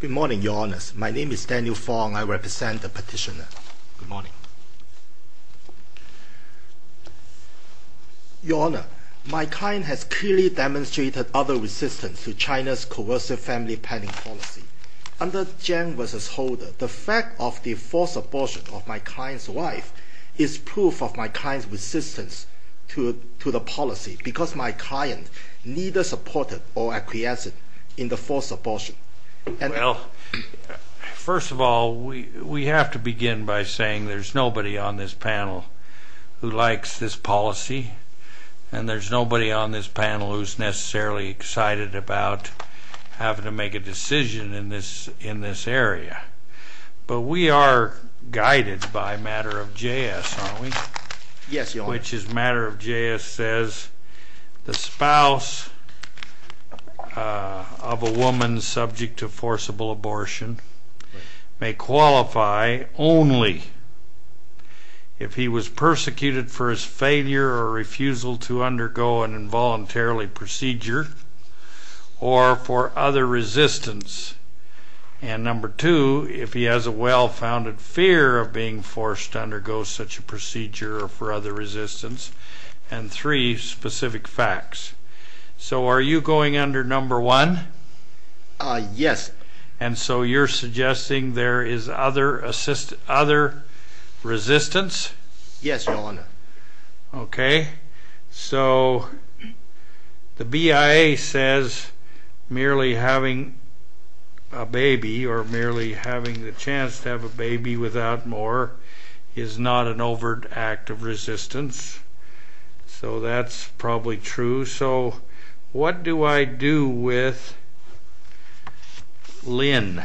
Good morning, Your Honour. My name is Daniel Fong. I represent the petitioner. Good morning. Your Honour, my client has clearly demonstrated other resistance to China's coercive family planning policy. Under Jiang v. Holder, the fact of the forced abortion of my client's wife is proof of my client's resistance to the policy because my client neither supported or acquiesced in the forced abortion. Well, first of all, we have to begin by saying there's nobody on this panel who likes this policy and there's nobody on this panel who's necessarily excited about having to make a decision in this area. But we are guided by a matter of JS, aren't we? Yes, Your Honour. Which is a matter of JS says the spouse of a woman subject to forcible abortion may qualify only if he was persecuted for his failure or refusal to undergo an involuntary procedure or for other resistance. And number two, if he has a well-founded fear of being forced to undergo such a procedure or for other resistance. And three, specific facts. So are you going under number one? Yes. And so you're suggesting there is other resistance? Yes, Your Honour. Okay. So the BIA says merely having a baby or merely having the chance to have a baby without more is not an overt act of resistance. So that's probably true. So what do I do with Lynn?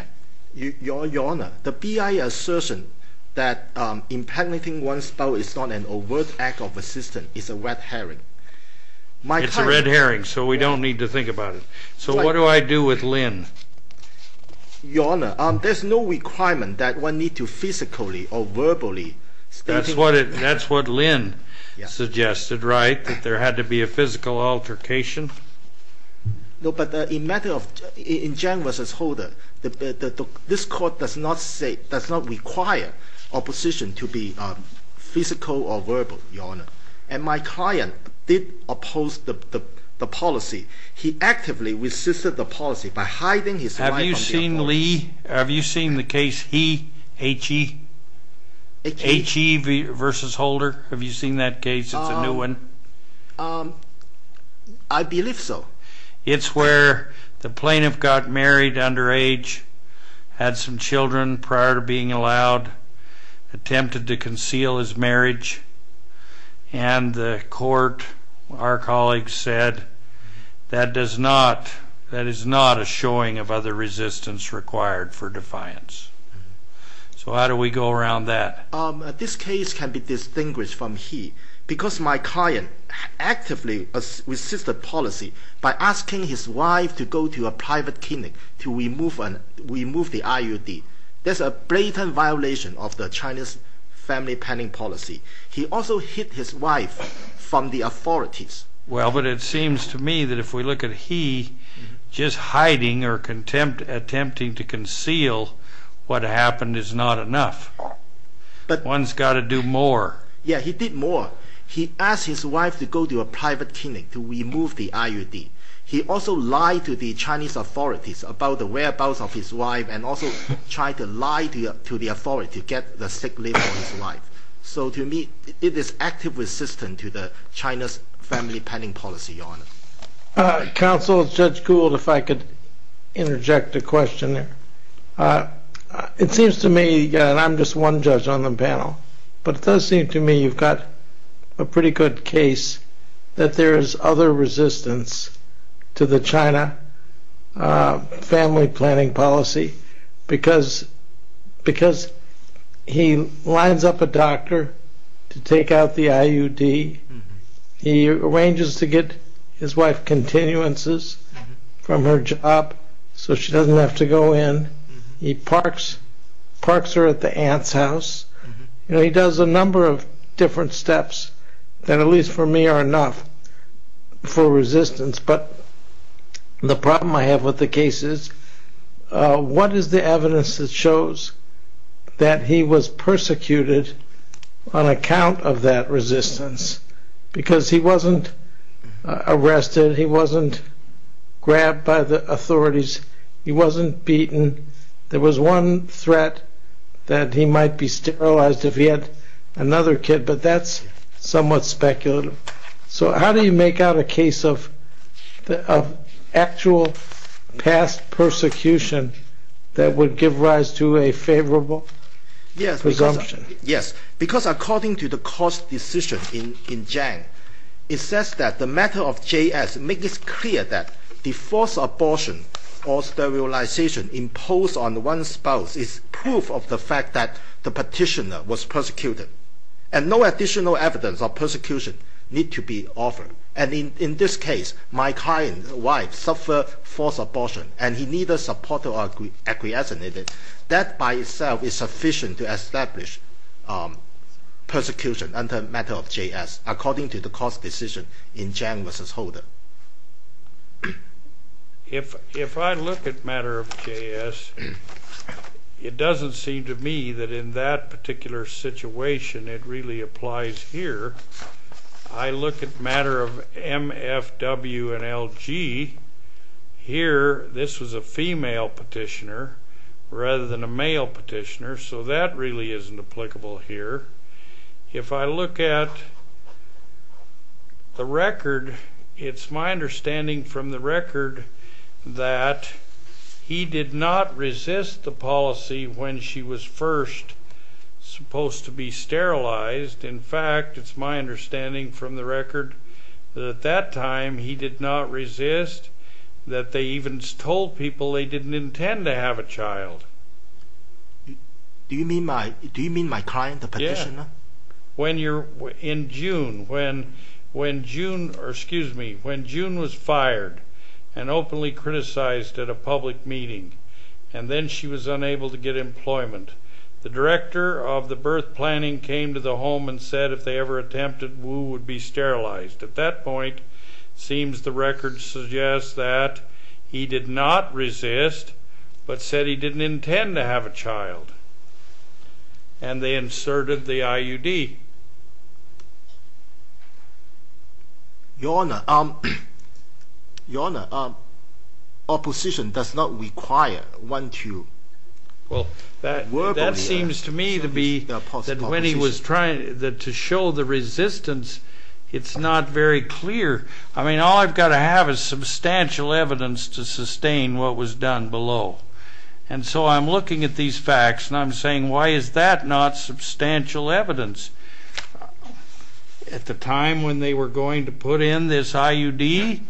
Your Honour, the BIA assertion that impregnating one's spouse is not an overt act of resistance is a red herring. It's a red herring, so we don't need to think about it. So what do I do with Lynn? Your Honour, there's no requirement that one need to physically or verbally... That's what Lynn suggested, right? That there had to be a physical altercation? No, but in matter of, in Jang v. Holder, this Court does not say, does not require opposition to be physical or verbal, Your Honour. And my client did oppose the policy. He actively resisted the policy by hiding his... Have you seen Lee, have you seen the case He versus Holder? Have you seen that case? It's a new one. I believe so. It's where the plaintiff got married underage, had some children prior to being allowed, attempted to conceal his marriage, and the Court, our colleagues said, that does not, that is not a showing of other resistance required for defiance. So how do we go around that? Your Honour, this case can be distinguished from He because my client actively resisted the policy by asking his wife to go to a private clinic to remove the IUD. That's a blatant violation of the Chinese family planning policy. He also hid his wife from the authorities. Well, but it seems to me that if we look at He just hiding or attempting to conceal what happened is not enough. One's got to do more. Yeah, he did more. He asked his wife to go to a private clinic to remove the IUD. He also lied to the Chinese authorities about the whereabouts of his wife and also tried to lie to the authorities to get the sick leave for his wife. So to me, it is active resistance to China's family planning policy, Your Honour. Counsel, Judge Gould, if I could interject a question there. It seems to me, and I'm just one judge on the panel, but it does seem to me you've got a pretty good case that there is other resistance to the China family planning policy because he lines up a doctor to take out the IUD. He arranges to get his wife continuances from her job so she doesn't have to go in. He parks her at the aunt's house. He does a number of different steps that at least for me are enough for resistance. But the problem I have with the case is what is the evidence that shows that he was persecuted on account of that resistance because he wasn't arrested, he wasn't grabbed by the authorities, he wasn't beaten, there was one threat that he might be sterilized if he had another kid, but that's somewhat speculative. So how do you make out a case of actual past persecution that would give rise to a favourable presumption? Yes, because according to the court's decision in Jiang, it says that the matter of JS makes it clear that the forced abortion or sterilization imposed on one's spouse is proof of the fact that the petitioner was persecuted and no additional evidence of persecution needs to be offered. And in this case, my client's wife suffered forced abortion and he neither supported nor acquiesced in it. That by itself is sufficient to establish persecution under the matter of JS according to the court's decision in Jiang v. Holder. If I look at matter of JS, it doesn't seem to me that in that particular situation it really applies here. I look at matter of MFW and LG, here this was a female petitioner rather than a male petitioner, so that really isn't applicable here. If I look at the record, it's my understanding from the record that he did not resist the policy when she was first supposed to be sterilized. In fact, it's my understanding from the record that at that time he did not resist, that they even told people they didn't intend to have a child. Do you mean my client, the petitioner? Yes. In June, when June was fired and openly criticized at a public meeting and then she was unable to get employment, the director of the birth planning came to the home and said if they ever attempted, Wu would be sterilized. At that point, it seems the record suggests that he did not resist, but said he didn't intend to have a child, and they inserted the IUD. Your Honor, opposition does not require one to work on the IUD. It seems to me to be that when he was trying to show the resistance, it's not very clear. I mean, all I've got to have is substantial evidence to sustain what was done below. And so I'm looking at these facts, and I'm saying why is that not substantial evidence? At the time when they were going to put in this IUD,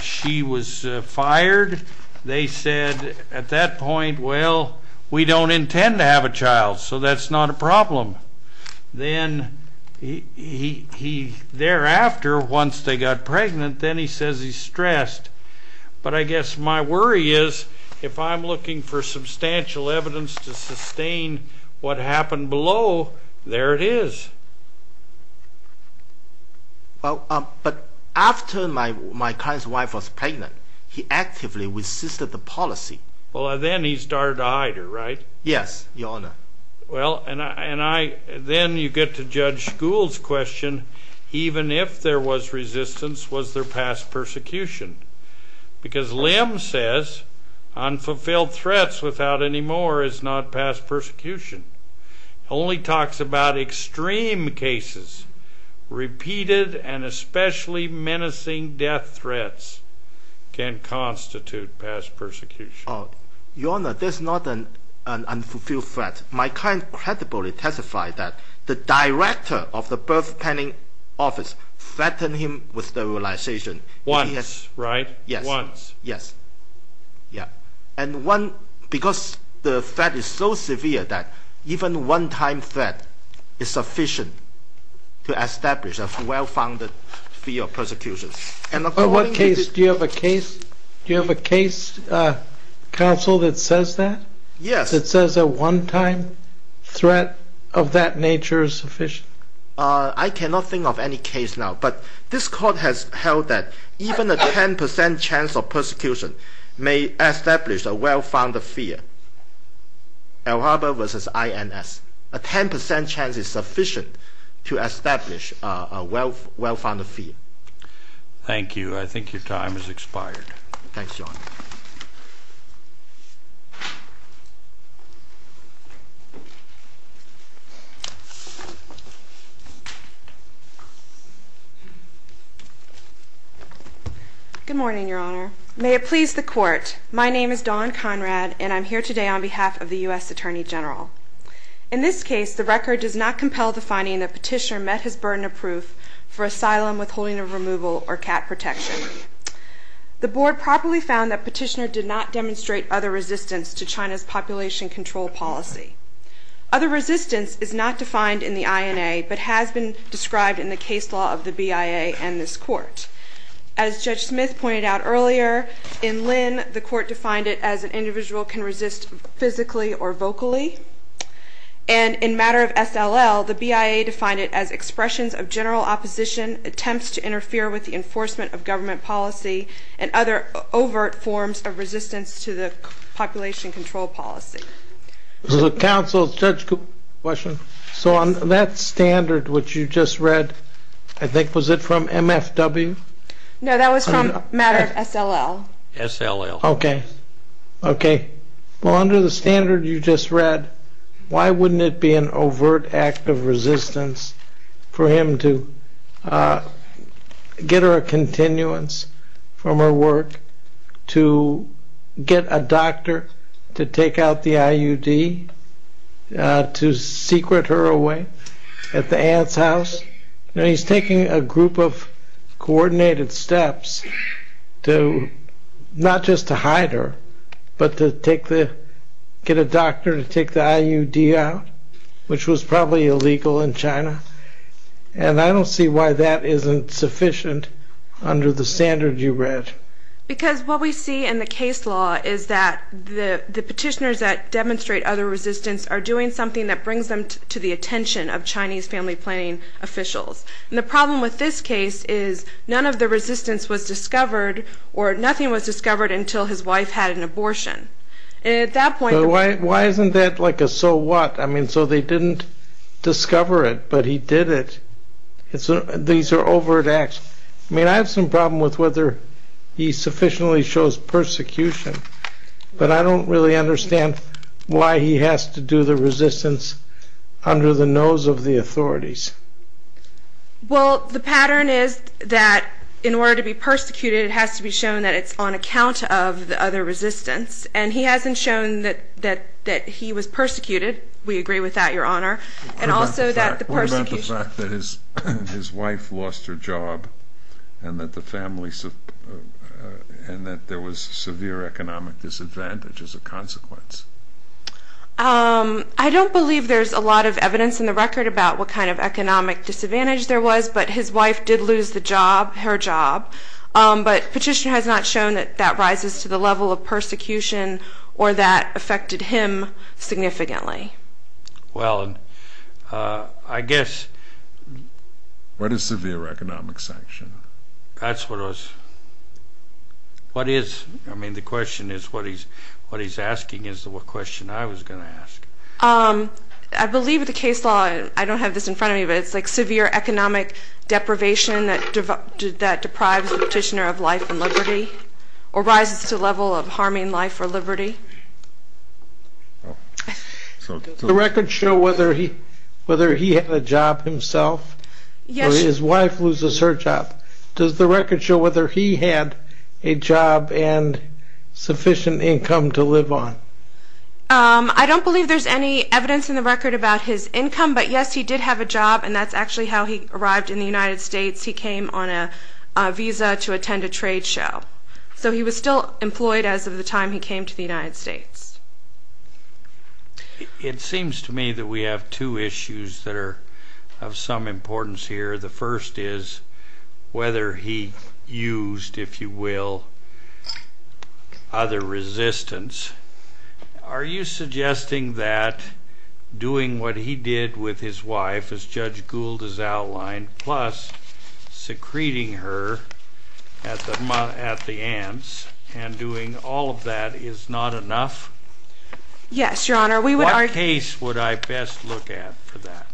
she was fired. They said at that point, well, we don't intend to have a child, so that's not a problem. Then thereafter, once they got pregnant, then he says he's stressed. But I guess my worry is if I'm looking for substantial evidence to sustain what happened below, there it is. But after my client's wife was pregnant, he actively resisted the policy. Well, then he started to hide her, right? Yes, Your Honor. Well, then you get to Judge Gould's question, even if there was resistance, was there past persecution? Because Lim says unfulfilled threats without any more is not past persecution. It only talks about extreme cases. Repeated and especially menacing death threats can constitute past persecution. Your Honor, that's not an unfulfilled threat. My client credibly testified that the director of the birth planning office threatened him with sterilization. Once, right? Yes. Once. Because the threat is so severe that even a one-time threat is sufficient to establish a well-founded fee of persecution. Do you have a case counsel that says that? Yes. That says a one-time threat of that nature is sufficient? I cannot think of any case now, but this court has held that even a 10% chance of persecution may establish a well-founded fee. El Harbor v. INS. A 10% chance is sufficient to establish a well-founded fee. Thank you. I think your time has expired. Thanks, Your Honor. Good morning, Your Honor. May it please the court. My name is Dawn Conrad, and I'm here today on behalf of the U.S. Attorney General. In this case, the record does not compel the finding that Petitioner met his burden of proof for asylum, withholding of removal, or cat protection. The board properly found that Petitioner did not demonstrate other resistance to China's population control policy. Other resistance is not defined in the INA, but has been described in the case law of the BIA and this court. As Judge Smith pointed out earlier, in Lynn, the court defined it as an individual can resist physically or vocally. And in matter of SLL, the BIA defined it as expressions of general opposition, attempts to interfere with the enforcement of government policy, and other overt forms of resistance to the population control policy. This is a counsel-judge question. So on that standard which you just read, I think, was it from MFW? No, that was from matter of SLL. SLL. Okay. Okay. Well, under the standard you just read, why wouldn't it be an overt act of resistance for him to get her a continuance from her work, to get a doctor to take out the IUD, to secret her away at the aunt's house? Because he's taking a group of coordinated steps, not just to hide her, but to get a doctor to take the IUD out, which was probably illegal in China. And I don't see why that isn't sufficient under the standard you read. Because what we see in the case law is that the petitioners that demonstrate other resistance are doing something that brings them to the attention of Chinese family planning officials. And the problem with this case is none of the resistance was discovered, or nothing was discovered until his wife had an abortion. And at that point... But why isn't that like a so what? I mean, so they didn't discover it, but he did it. These are overt acts. I mean, I have some problem with whether he sufficiently shows persecution, but I don't really understand why he has to do the resistance under the nose of the authorities. Well, the pattern is that in order to be persecuted, it has to be shown that it's on account of the other resistance. And he hasn't shown that he was persecuted. We agree with that, Your Honor. And also that the persecution... as a consequence. I don't believe there's a lot of evidence in the record about what kind of economic disadvantage there was, but his wife did lose the job, her job. But Petitioner has not shown that that rises to the level of persecution or that affected him significantly. Well, I guess... What is severe economic sanction? That's what I was... What is... I mean, the question is what he's asking is the question I was going to ask. I believe with the case law, I don't have this in front of me, but it's like severe economic deprivation that deprives the Petitioner of life and liberty Does the record show whether he had a job himself? Yes. Or his wife loses her job? Does the record show whether he had a job and sufficient income to live on? I don't believe there's any evidence in the record about his income, but yes, he did have a job, and that's actually how he arrived in the United States. He came on a visa to attend a trade show. So he was still employed as of the time he came to the United States. It seems to me that we have two issues that are of some importance here. The first is whether he used, if you will, other resistance. Are you suggesting that doing what he did with his wife, as Judge Gould has outlined, plus secreting her at the aunt's and doing all of that is not enough? Yes, Your Honor. What case would I best look at for that?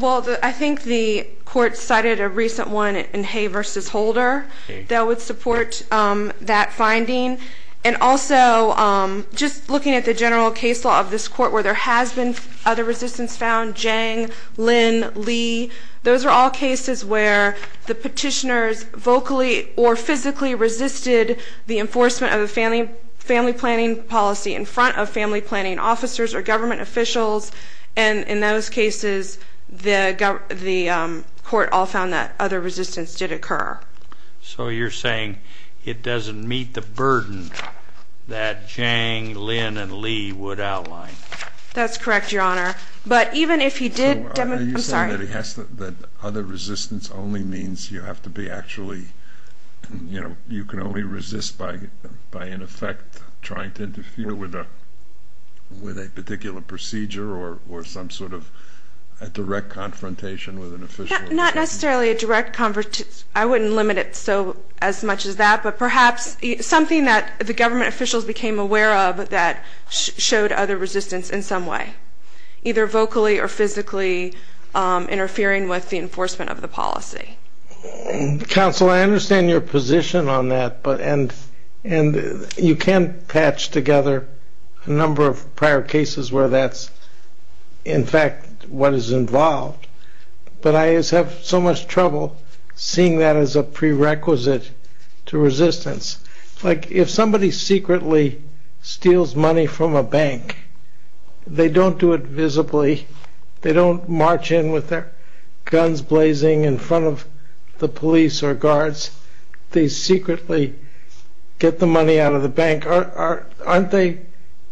Well, I think the court cited a recent one in Hay v. Holder that would support that finding. And also, just looking at the general case law of this court where there has been other resistance found, Zhang, Lin, Lee, those are all cases where the petitioners vocally or physically resisted the enforcement of a family planning policy in front of family planning officers or government officials, and in those cases, the court all found that other resistance did occur. So you're saying it doesn't meet the burden that Zhang, Lin, and Lee would outline? That's correct, Your Honor. So are you saying that other resistance only means you have to be actually, you know, you can only resist by, in effect, trying to interfere with a particular procedure or some sort of direct confrontation with an official? Not necessarily a direct confrontation. I wouldn't limit it as much as that, but perhaps something that the government officials became aware of that showed other resistance in some way, either vocally or physically interfering with the enforcement of the policy. Counsel, I understand your position on that, and you can patch together a number of prior cases where that's, in fact, what is involved. But I just have so much trouble seeing that as a prerequisite to resistance. Like if somebody secretly steals money from a bank, they don't do it visibly. They don't march in with their guns blazing in front of the police or guards. They secretly get the money out of the bank. Aren't they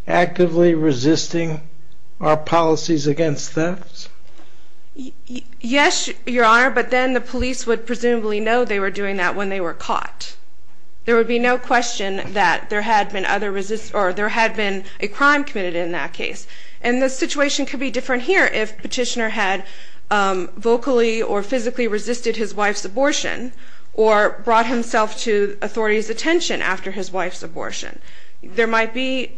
actively resisting our policies against thefts? Yes, Your Honor, but then the police would presumably know they were doing that when they were caught. There would be no question that there had been a crime committed in that case. And the situation could be different here if Petitioner had vocally or physically resisted his wife's abortion or brought himself to authorities' attention after his wife's abortion. There might be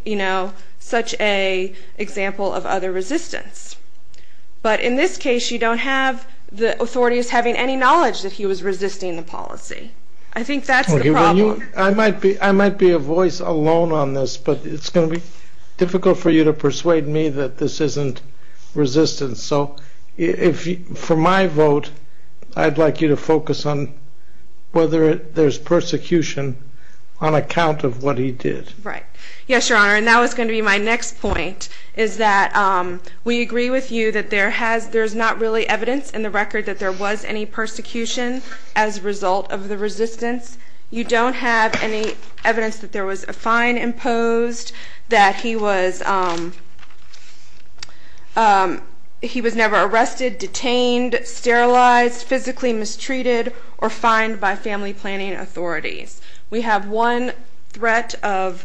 such an example of other resistance. But in this case, you don't have the authorities having any knowledge that he was resisting the policy. I think that's the problem. I might be a voice alone on this, but it's going to be difficult for you to persuade me that this isn't resistance. So for my vote, I'd like you to focus on whether there's persecution on account of what he did. Right. Yes, Your Honor, and that was going to be my next point, is that we agree with you that there's not really evidence in the record that there was any persecution as a result of the resistance. You don't have any evidence that there was a fine imposed, that he was never arrested, detained, sterilized, physically mistreated, or fined by family planning authorities. We have one threat of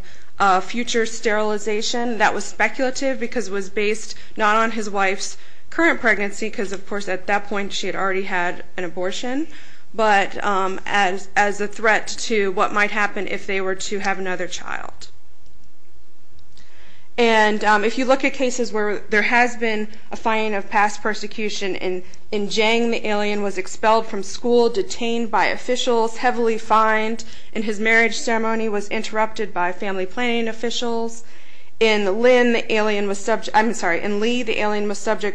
future sterilization that was speculative because it was based not on his wife's current pregnancy because, of course, at that point she had already had an abortion, but as a threat to what might happen if they were to have another child. And if you look at cases where there has been a fine of past persecution, in Zhang the alien was expelled from school, detained by officials, heavily fined, and his marriage ceremony was interrupted by family planning officials. In Li, the alien was subject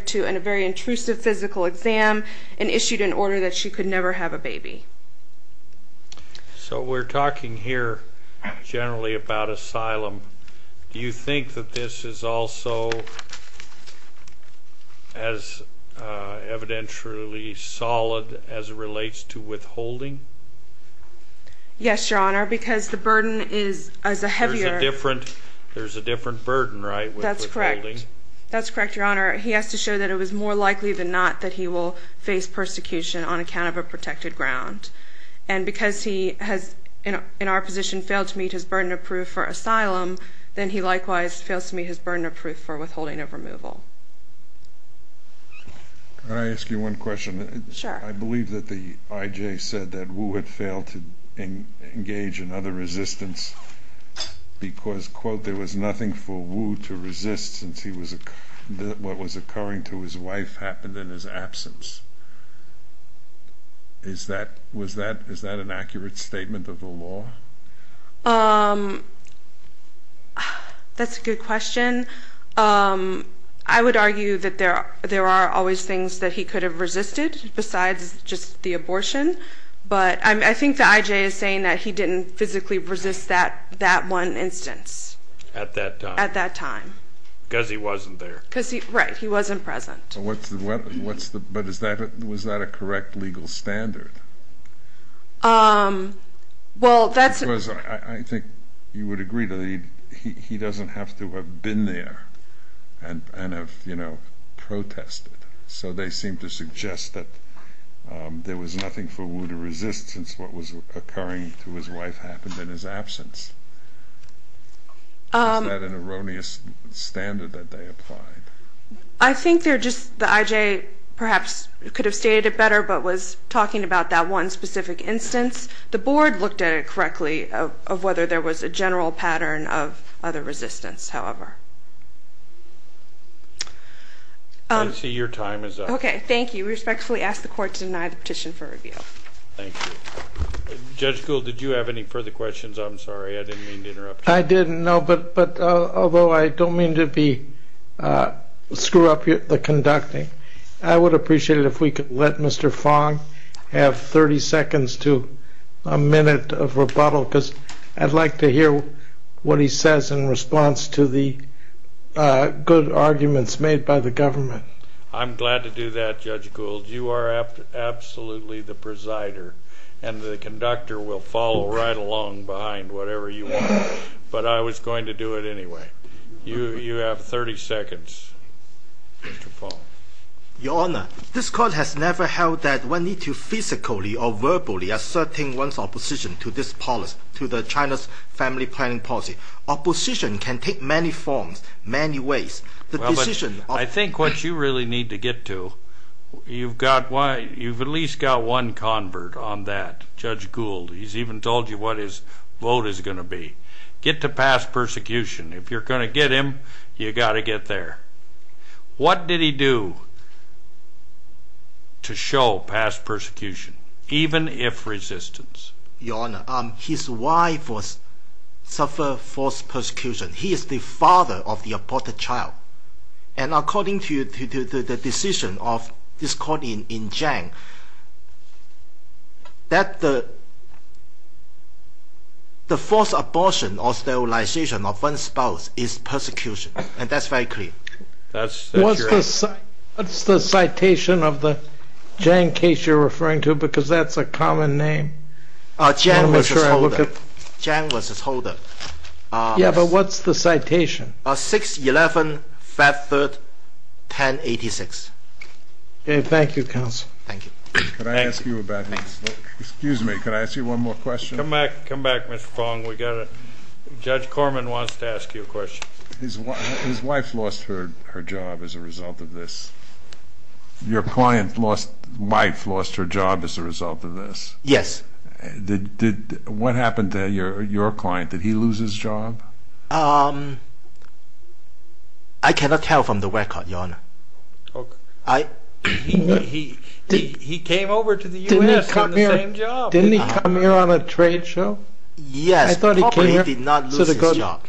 to a very intrusive physical exam and issued an order that she could never have a baby. So we're talking here generally about asylum. Do you think that this is also as evidentially solid as it relates to withholding? Yes, Your Honor, because the burden is as a heavier... There's a different burden, right? That's correct. That's correct, Your Honor. He has to show that it was more likely than not that he will face persecution on account of a protected ground. And because he has, in our position, failed to meet his burden of proof for asylum, then he likewise fails to meet his burden of proof for withholding of removal. Can I ask you one question? Sure. I believe that the IJ said that Wu had failed to engage in other resistance because, quote, there was nothing for Wu to resist since what was occurring to his wife happened in his absence. Is that an accurate statement of the law? That's a good question. I would argue that there are always things that he could have resisted besides just the abortion, but I think the IJ is saying that he didn't physically resist that one instance. At that time? At that time. Because he wasn't there. Right, he wasn't present. But was that a correct legal standard? Because I think you would agree that he doesn't have to have been there and have protested, so they seem to suggest that there was nothing for Wu to resist since what was occurring to his wife happened in his absence. Is that an erroneous standard that they applied? I think they're just the IJ perhaps could have stated it better but was talking about that one specific instance. The Board looked at it correctly of whether there was a general pattern of other resistance, however. I see your time is up. Okay, thank you. We respectfully ask the Court to deny the petition for review. Thank you. Judge Gould, did you have any further questions? I'm sorry, I didn't mean to interrupt you. I didn't, no, but although I don't mean to screw up the conducting, I would appreciate it if we could let Mr. Fong have 30 seconds to a minute of rebuttal because I'd like to hear what he says in response to the good arguments made by the government. I'm glad to do that, Judge Gould. You are absolutely the presider and the conductor will follow right along behind whatever you want, but I was going to do it anyway. You have 30 seconds, Mr. Fong. Your Honour, this Court has never held that one needs to physically or verbally assert one's opposition to this policy, to China's family planning policy. Opposition can take many forms, many ways. I think what you really need to get to, you've at least got one convert on that, Judge Gould. He's even told you what his vote is going to be. Get to past persecution. If you're going to get him, you've got to get there. What did he do to show past persecution, even if resistance? Your Honour, his wife suffered forced persecution. He is the father of the aborted child. And according to the decision of this Court in Jiang, that the forced abortion or sterilization of one's spouse is persecution. And that's very clear. What's the citation of the Jiang case you're referring to? Because that's a common name. Jiang was his holder. Yeah, but what's the citation? 6-11-5-3-10-86. Thank you, Counsel. Excuse me, can I ask you one more question? Come back, Mr. Fong. Judge Corman wants to ask you a question. His wife lost her job as a result of this. Your client's wife lost her job as a result of this. Yes. What happened to your client? Did he lose his job? I cannot tell from the record, Your Honour. He came over to the U.S. and got the same job. Didn't he come here on a trade show? Yes, but he did not lose his job.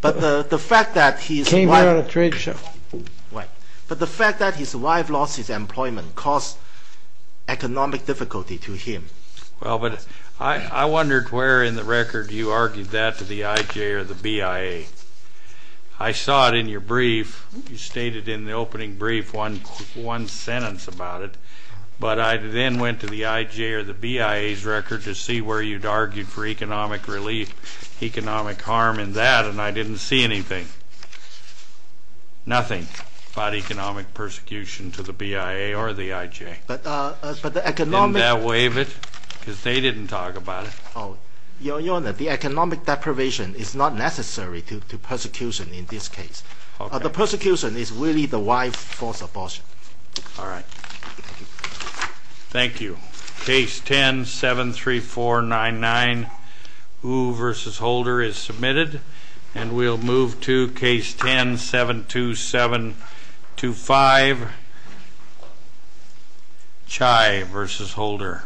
But the fact that his wife lost his employment caused economic difficulty to him. Well, but I wondered where in the record you argued that to the IJ or the BIA. I saw it in your brief. You stated in the opening brief one sentence about it, but I then went to the IJ or the BIA's record to see where you'd argued for economic relief, economic harm in that, and I didn't see anything. Nothing about economic persecution to the BIA or the IJ. Didn't that waive it? Because they didn't talk about it. Your Honour, the economic deprivation is not necessary to persecution in this case. The persecution is really the wife's false abortion. All right. Thank you. Thank you. Case 10-73499, Wu v. Holder, is submitted, and we'll move to Case 10-72725, Chai v. Holder. Thank you.